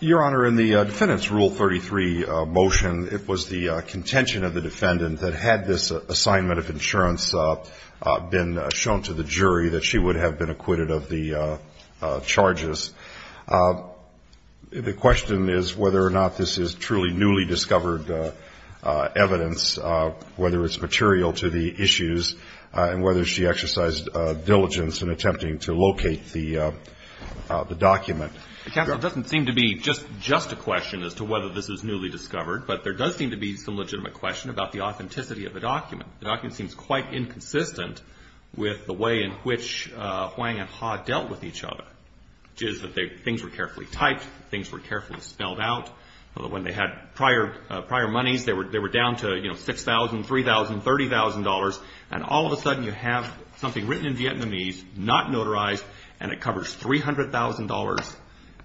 Your Honor, in the Defendant's Rule 33 motion, it was the contention of the Defendant that had this assignment of insurance been shown to the jury, that she would have been acquitted of the charges. The question is whether or not this is truly newly-discovered whether it's material to the issues, and whether she exercised diligence in attempting to locate the document. The counsel, it doesn't seem to be just a question as to whether this is newly-discovered, but there does seem to be some legitimate question about the authenticity of the document. The document seems quite inconsistent with the way in which Hoang and Ha dealt with each other, which is that things were carefully typed, things were carefully spelled out. When they had prior monies, they were down to $6,000, $3,000, $30,000, and all of a sudden you have something written in Vietnamese, not notarized, and it covers $300,000,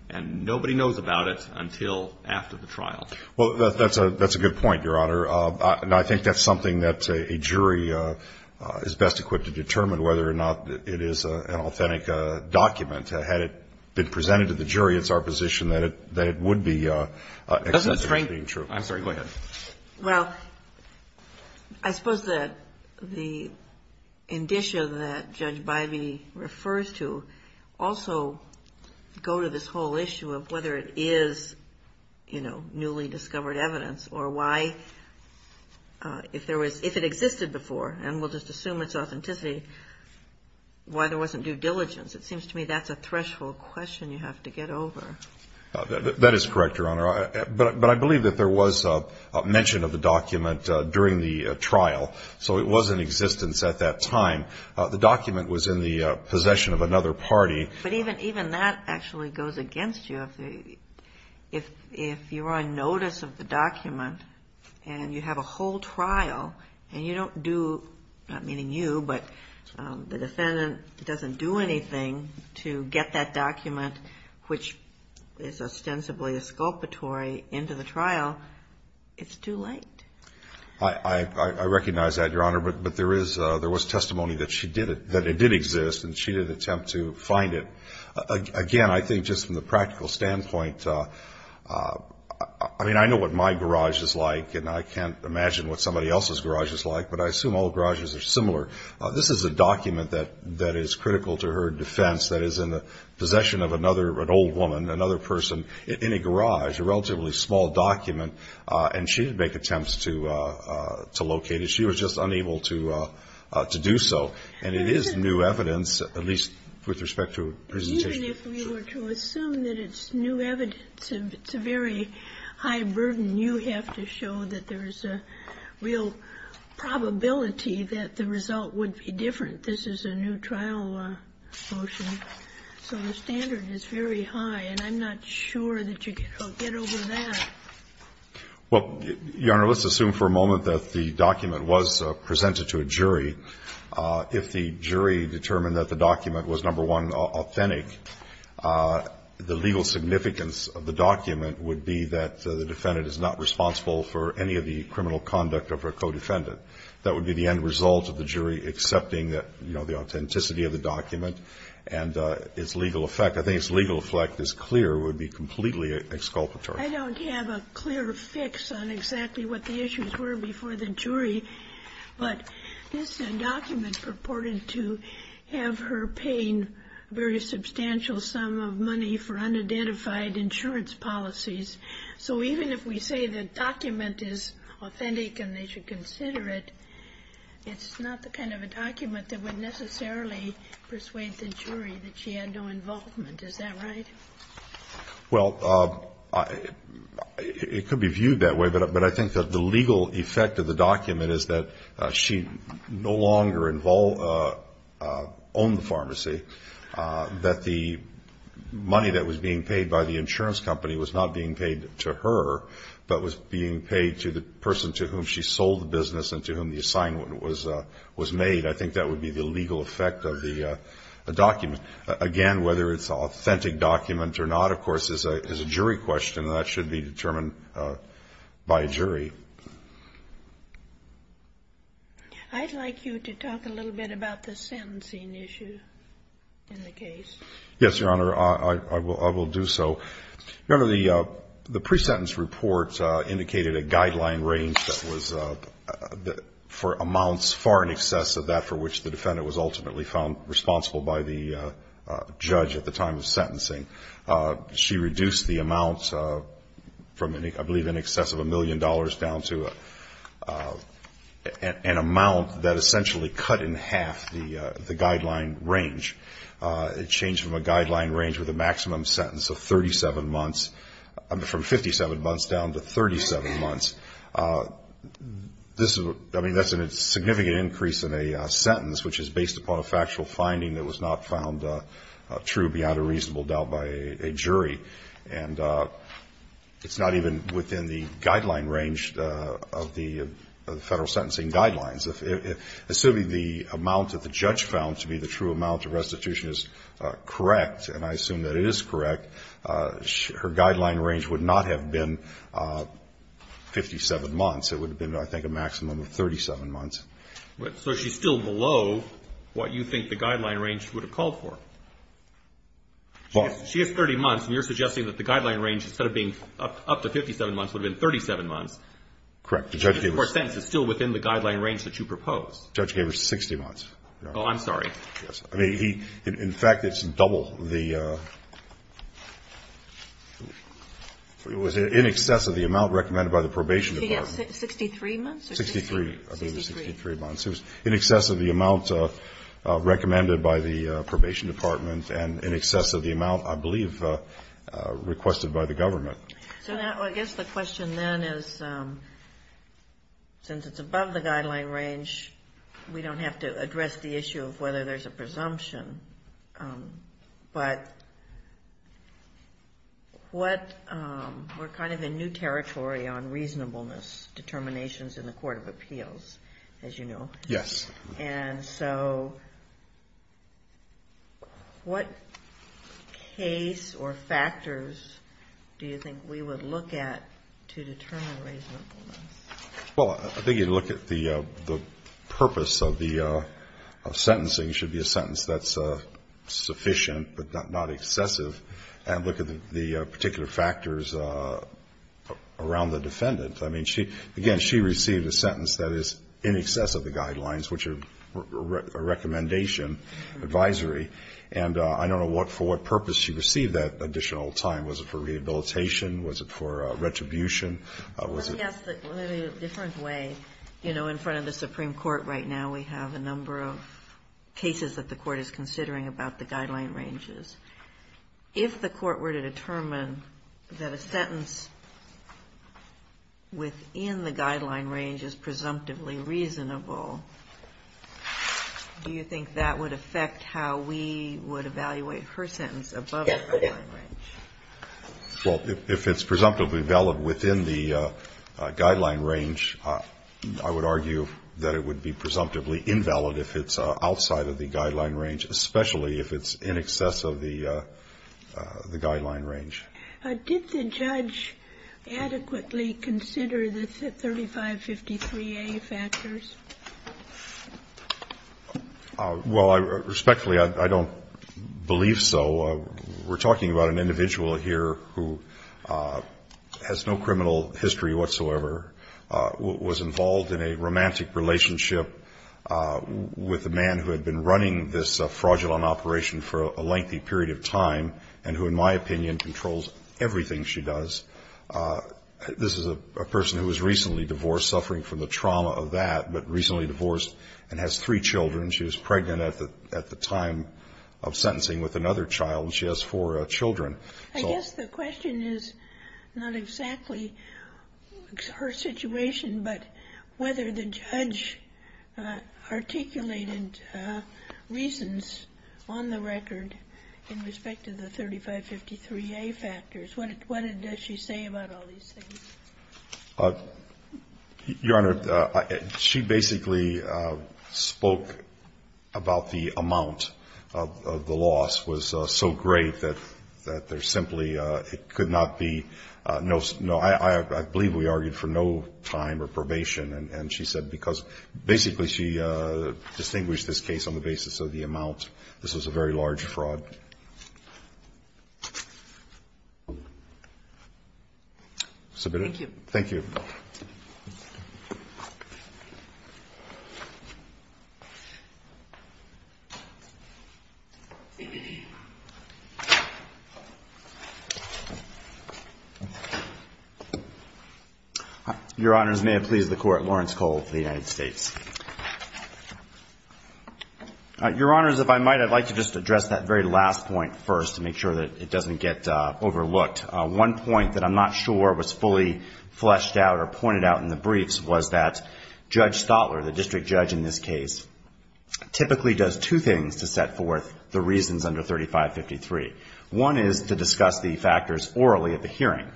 and nobody knows about it until after the trial. Well, that's a good point, Your Honor. I think that's something that a jury is best equipped to determine, whether or not it is an authentic document. Had it been presented to the jury, it's our expectation it would be true. I'm sorry. Go ahead. Well, I suppose that the indicia that Judge Bivey refers to also go to this whole issue of whether it is, you know, newly-discovered evidence, or why, if it existed before, and we'll just assume it's authenticity, why there wasn't due diligence. It seems to me that's a threshold question you have to get over. That is correct, Your Honor. But I believe that there was mention of the document during the trial, so it was in existence at that time. The document was in the possession of another party. But even that actually goes against you. If you're on notice of the document and you have a whole trial, and you don't do, not meaning you, but the defendant doesn't do anything to get that document, which is ostensibly a sculptory, into the trial, it's too late. I recognize that, Your Honor. But there was testimony that it did exist, and she did attempt to find it. Again, I think just from the practical standpoint, I mean, I know what my garage is like, and I can't imagine what somebody else's garage is like, but I assume all garages are similar. This is a document that is critical to her defense, that is in the possession of another, an old woman, another person in a garage, a relatively small document, and she didn't make attempts to locate it. She was just unable to do so. And it is new evidence, at least with respect to her presentation. But even if we were to assume that it's new evidence, it's a very high burden. You have to show that there would be different. This is a new trial motion. So the standard is very high. And I'm not sure that you can get over that. Well, Your Honor, let's assume for a moment that the document was presented to a jury. If the jury determined that the document was, number one, authentic, the legal significance of the document would be that the defendant is not responsible for any of the criminal conduct of her co-defendant. That would be the end result of the jury accepting the authenticity of the document and its legal effect. I think its legal effect is clear. It would be completely exculpatory. I don't have a clear fix on exactly what the issues were before the jury, but this document purported to have her paying a very substantial sum of money for unidentified insurance policies. So even if we say the document is authentic and they should consider it, it's not the kind of a document that would necessarily persuade the jury that she had no involvement. Is that right? Well, it could be viewed that way, but I think that the legal effect of the document is that she no longer owned the pharmacy, that the money that was being paid by the insurance company was not being paid to her, but was being paid to the person to whom she sold the business and to whom the assignment was made. I think that would be the legal effect of the document. Again, whether it's an authentic document or not, of course, is a jury question, and that should be determined by a jury. I'd like you to talk a little bit about the sentencing issue in the case. Yes, Your Honor. I will do so. Your Honor, the pre-sentence report indicated a guideline range that was for amounts far in excess of that for which the defendant was ultimately found responsible by the judge at the time of sentencing. She reduced the amount from, I believe, in excess of a million dollars down to an amount that essentially cut in half the guideline range. It changed from a guideline range with a maximum sentence of 37 months, from 57 months down to 37 months. I mean, that's a significant increase in a sentence, which is based upon a factual finding that was not found true beyond a reasonable doubt by a jury. And it's not even within the guideline range of the federal sentencing guidelines. Assuming the amount that the judge found to be the true amount of restitution is correct, and I assume that it is correct, her guideline range would not have been 57 months. It would have been, I think, a maximum of 37 months. So she's still below what you think the guideline range would have called for. She has 30 months, and you're suggesting that the guideline range, instead of being up to 57 months, would have been 37 months. Correct. Your sense is still within the guideline range that you propose. The judge gave her 60 months. Oh, I'm sorry. Yes. I mean, he, in fact, it's double the, it was in excess of the amount recommended by the Probation Department. She has 63 months? 63. 63. 63. 63 months. It was in excess of the amount recommended by the Probation Department and in excess of the amount, I believe, requested by the government. So now, I guess the question then is, since it's above the guideline range, we don't have to address the issue of whether there's a presumption, but what, we're kind of in new territory on reasonableness, determinations in the Court of Appeals, as you know. Yes. And so what case or factors do you think we would look at to determine reasonableness? Well, I think you'd look at the purpose of the, of sentencing. It should be a sentence that's sufficient but not excessive, and look at the particular factors around the defendant. I mean, she, again, she received a sentence that is in excess of the guidelines, which are a recommendation, advisory, and I don't know what, for what purpose she received that additional time. Was it for rehabilitation? Was it for retribution? Well, yes, but in a different way. You know, in front of the Supreme Court right now, we have a number of cases that the Court is considering about the guideline ranges. If the Court were to determine that a sentence within the guideline range is presumptively reasonable, do you think that would affect how we would evaluate her sentence above the guideline range? Well, if it's presumptively valid within the guideline range, I would argue that it would be presumptively invalid if it's outside of the guideline range, especially if it's in excess of the guideline range. Did the judge adequately consider the 3553A factors? Well, respectfully, I don't believe so. We're talking about an individual here who has no criminal history whatsoever, was involved in a romantic relationship with a man who had been running this fraudulent operation for a lengthy period of time and who, in my opinion, controls everything she does. This is a person who was recently divorced, suffering from the trauma of that, but recently divorced and has three children. She was pregnant at the time of sentencing with another child, and she has four children. I guess the question is not exactly her situation, but whether the judge articulated reasons on the record in respect to the 3553A factors. What did she say about all these things? Your Honor, she basically spoke about the amount of the loss was so great that the re simply could not be no, I believe we argued for no time or probation. And she said because basically she distinguished this case on the basis of the amount. This was a very large fraud. Submitted? Thank you. Your Honors, may it please the Court, Lawrence Cole for the United States. Your Honors, if I might, I'd like to just address that very last point first to make sure that it doesn't get fleshed out or pointed out in the briefs, was that Judge Stotler, the district judge in this case, typically does two things to set forth the reasons under 3553. One is to discuss the factors orally at the hearing.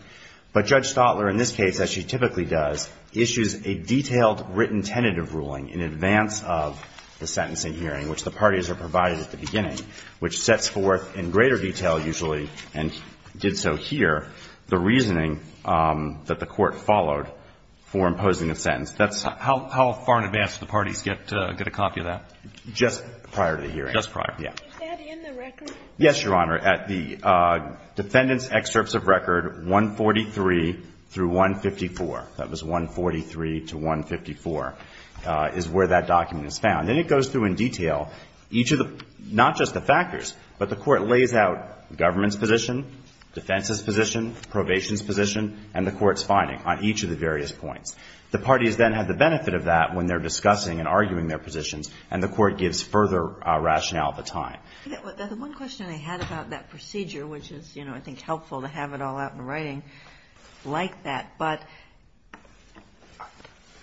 But Judge Stotler in this case, as she typically does, issues a detailed written tentative ruling in advance of the sentencing hearing, which the parties are provided at the beginning, which sets forth in greater detail usually, and did so here, the reasoning that the Court followed for imposing a sentence. How far in advance do the parties get a copy of that? Just prior to the hearing. Just prior. Is that in the record? Yes, Your Honor. At the defendant's excerpts of record, 143 through 154, that was 143 to 154, is where that document is found. And it goes through in detail each of the not just the factors, but the Court lays out the government's position, defense's position, probation's position, and the Court's finding on each of the various points. The parties then have the benefit of that when they're discussing and arguing their positions, and the Court gives further rationale at the time. The one question I had about that procedure, which is, you know, I think helpful to have it all out in writing, like that, but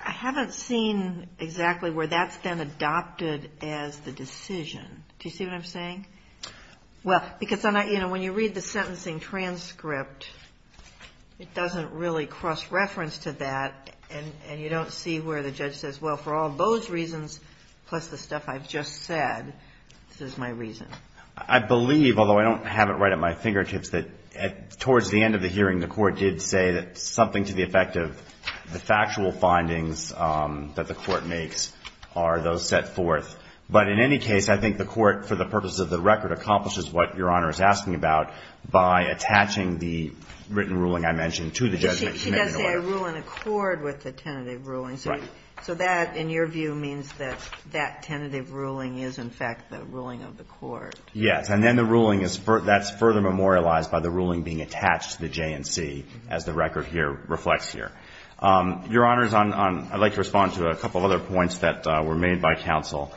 I haven't seen exactly where that's been adopted as the decision. Do you see what I'm saying? Well, because I'm not, you know, when you read the sentencing transcript, it doesn't really cross-reference to that, and you don't see where the judge says, well, for all those reasons, plus the stuff I've just said, this is my reason. I believe, although I don't have it right at my fingertips, that towards the end of the hearing, the Court did say that something to the effect of the factual findings that the Court makes are those set forth. But in any case, I think the Court, for the purposes of the record, accomplishes what Your Honor is asking about by attaching the written ruling I mentioned to the judgment. She does say I rule in accord with the tentative ruling. Right. So that, in your view, means that that tentative ruling is, in fact, the ruling of the court. Yes. And then the ruling is, that's further memorialized by the ruling being attached to the J&C, as the record here reflects here. Your Honors, I'd like to respond to a couple other points that were made by counsel.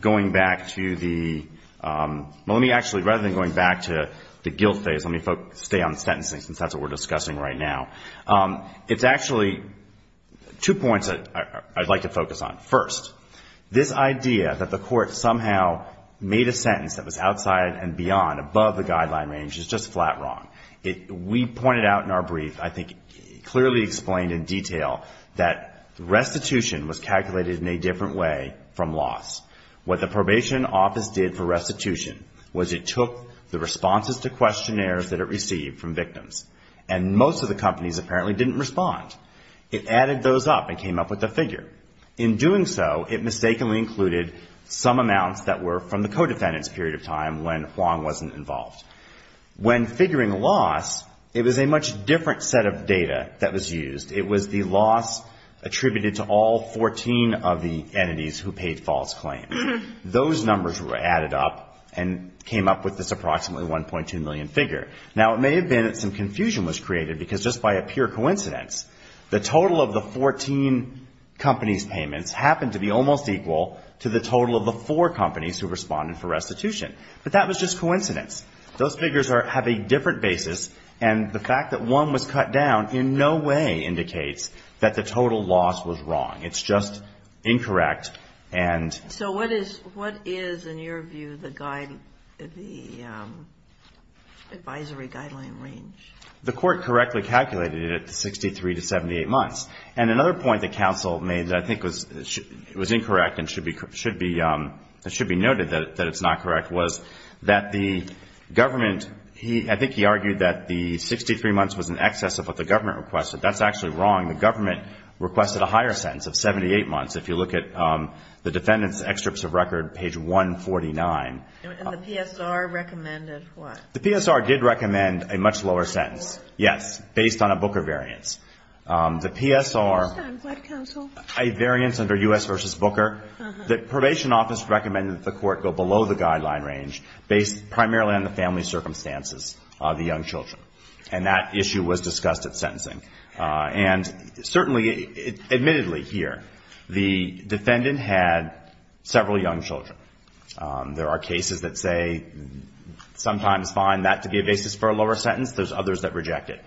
Going back to the, well, let me actually, rather than going back to the guilt phase, let me stay on sentencing, since that's what we're discussing right now. It's actually two points that I'd like to focus on. First, this idea that the Court somehow made a sentence that was outside and beyond, above the guideline range, is just flat wrong. We pointed out in our brief, I think clearly explained in detail, that restitution was calculated in a different way from loss. What the Probation Office did for restitution was it took the responses to questionnaires that it received from victims, and most of the companies apparently didn't respond. It added those up and came up with a figure. In doing so, it mistakenly included some amounts that were from the codefendant's period of time when Huang wasn't involved. When figuring loss, it was a much different set of data that was used. It was the loss attributed to all 14 of the entities who paid false claims. Those numbers were added up and came up with this approximately 1.2 million figure. Now, it may have been that some confusion was created, because just by a pure calculation, those companies' payments happened to be almost equal to the total of the four companies who responded for restitution. But that was just coincidence. Those figures have a different basis, and the fact that one was cut down in no way indicates that the total loss was wrong. It's just incorrect. And so what is, in your view, the advisory guideline range? The Court correctly calculated it at 63 to 78 months. And another point that counsel made that I think was incorrect and should be noted that it's not correct was that the government, I think he argued that the 63 months was in excess of what the government requested. That's actually wrong. The government requested a higher sentence of 78 months. If you look at the defendant's extracts of record, page 149. And the PSR recommended what? The PSR did recommend a much lower sentence, yes, based on a Booker variance. The PSR, a variance under U.S. v. Booker, the probation office recommended that the court go below the guideline range based primarily on the family circumstances of the young children. And that issue was discussed at sentencing. And certainly, admittedly here, the defendant had several young children. There are cases that say sometimes fine, that to be a basis for a lower sentence. There's others that reject it.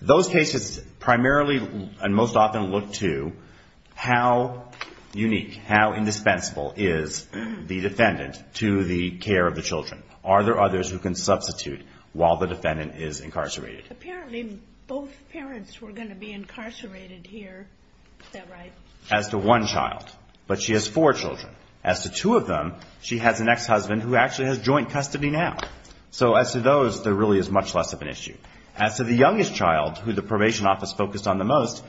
Those cases primarily and most often look to how unique, how indispensable is the defendant to the care of the children. Are there others who can substitute while the defendant is incarcerated? Apparently both parents were going to be incarcerated here. Is that right? As to one child. But she has four children. As to two of them, she has an ex-husband who actually has joint custody now. So as to those, there really is much less of an issue. As to the youngest child, who the probation office focused on the most,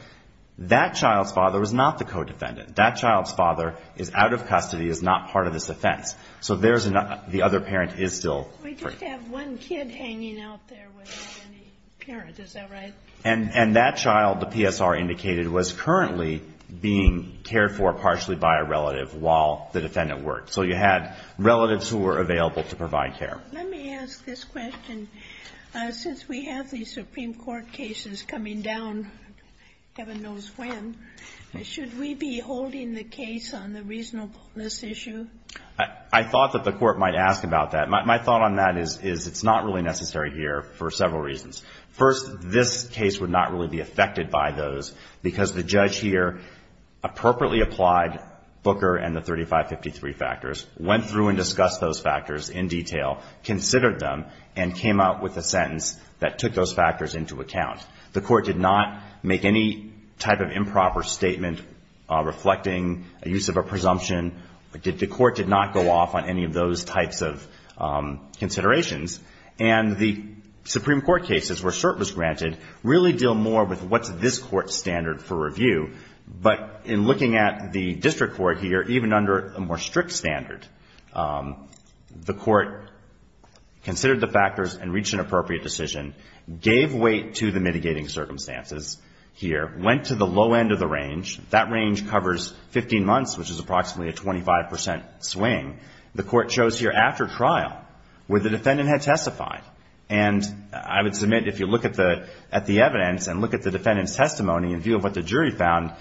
that child's father was not the co-defendant. That child's father is out of custody, is not part of this offense. So there's an other parent is still free. We just have one kid hanging out there without any parents. Is that right? And that child, the PSR indicated, was currently being cared for partially by a relative while the defendant worked. So you had relatives who were available to provide care. Let me ask this question. Since we have these Supreme Court cases coming down heaven knows when, should we be holding the case on the reasonableness issue? I thought that the Court might ask about that. My thought on that is it's not really necessary here for several reasons. First, this case would not really be affected by those because the judge here appropriately applied Booker and the 3553 factors, went through and discussed those factors in detail, considered them, and came out with a sentence that took those factors into account. The Court did not make any type of improper statement reflecting a use of a presumption. The Court did not go off on any of those types of considerations. And the Supreme Court cases where cert was granted really deal more with what's this Court's standard for review. But in looking at the district court here, even under a more strict standard, the Court considered the factors and reached an appropriate decision, gave weight to the mitigating circumstances here, went to the low end of the range. That range covers 15 months, which is approximately a 25 percent swing. The Court chose here after trial where the defendant had testified. And I would submit if you look at the evidence and look at the defendant's testimony in view of what the jury found,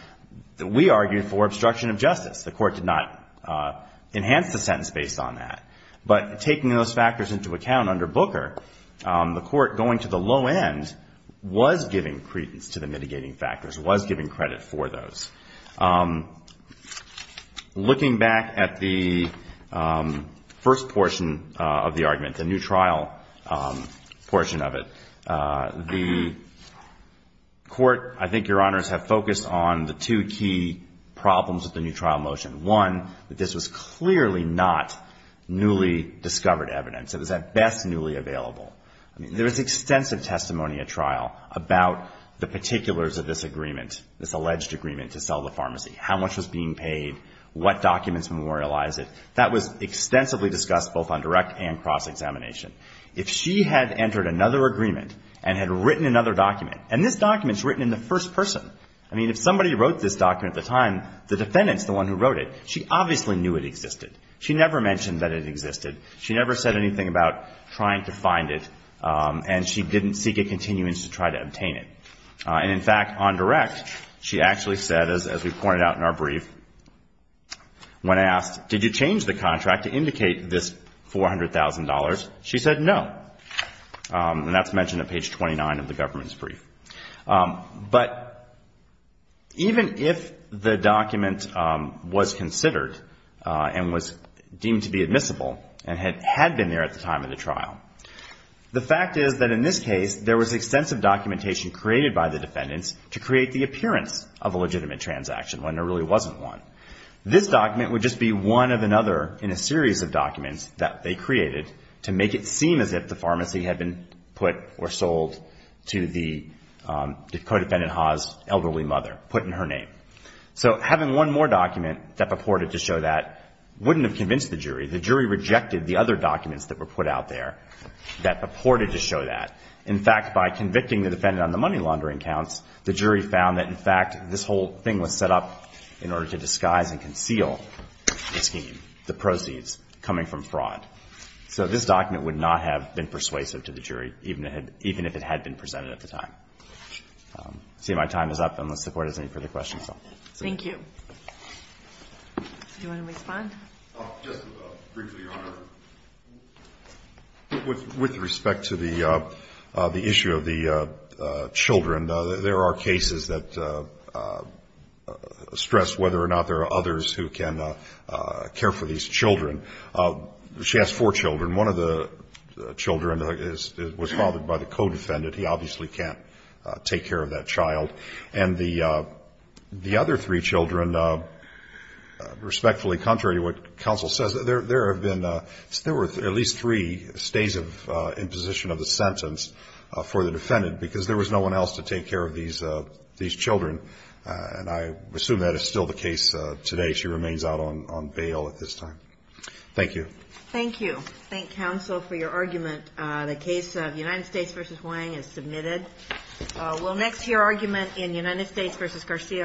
we argued for obstruction of justice. The Court did not enhance the sentence based on that. But taking those factors into account under Booker, the Court, going to the low end, was giving credence to the mitigating factors, was giving credit for those. Looking back at the first portion of the argument, the new trial portion of it, the Court, I think Your Honors, have focused on the two key problems with the new trial motion. One, that this was clearly not newly discovered evidence. It was at best newly available. I mean, there was extensive testimony at trial about the particulars of this agreement, this alleged agreement to sell the pharmacy, how much was being paid, what documents memorialize it. That was extensively discussed both on direct and cross-examination. If she had entered another agreement and had written another document, and this document's written in the first person. I mean, if somebody wrote this document at the time, the defendant's the one who wrote it. She obviously knew it existed. She never mentioned that it existed. She never said anything about trying to find it. And she didn't seek a continuance to try to obtain it. And, in fact, on direct, she actually said, as we pointed out in our brief, when asked, did you change the contract to indicate this $400,000, she said no. And that's mentioned at page 29 of the government's brief. But even if the document was considered and was deemed to be admissible and had been there at the time of the trial, the fact is that in this case, there was extensive documentation created by the defendants to create the appearance of a legitimate transaction when there really wasn't one. This document would just be one of another in a series of documents that they created to make it seem as if the pharmacy had been put or sold to the co-defendant Ha's elderly mother, put in her name. So having one more document that purported to show that wouldn't have convinced the jury. The jury rejected the other documents that were put out there that purported to show that. In fact, by convicting the defendant on the money laundering counts, the jury found that, in fact, this whole thing was set up in order to disguise and conceal the scheme, the proceeds coming from fraud. So this document would not have been persuasive to the jury, even if it had been presented at the time. I see my time is up, unless the Court has any further questions. Thank you. Do you want to respond? Just briefly, Your Honor. With respect to the issue of the children, there are cases that stress whether or not there are others who can care for these children. She has four children. One of the children was fathered by the co-defendant. He obviously can't take care of that child. And the other three children, respectfully, contrary to what counsel says, there were at least three stays in position of the sentence for the defendant because there was no one else to take care of these children. And I assume that is still the case today. She remains out on bail at this time. Thank you. Thank you. Thank counsel for your argument. The case of United States v. Huang is submitted. We'll next hear argument in United States v. Garcia.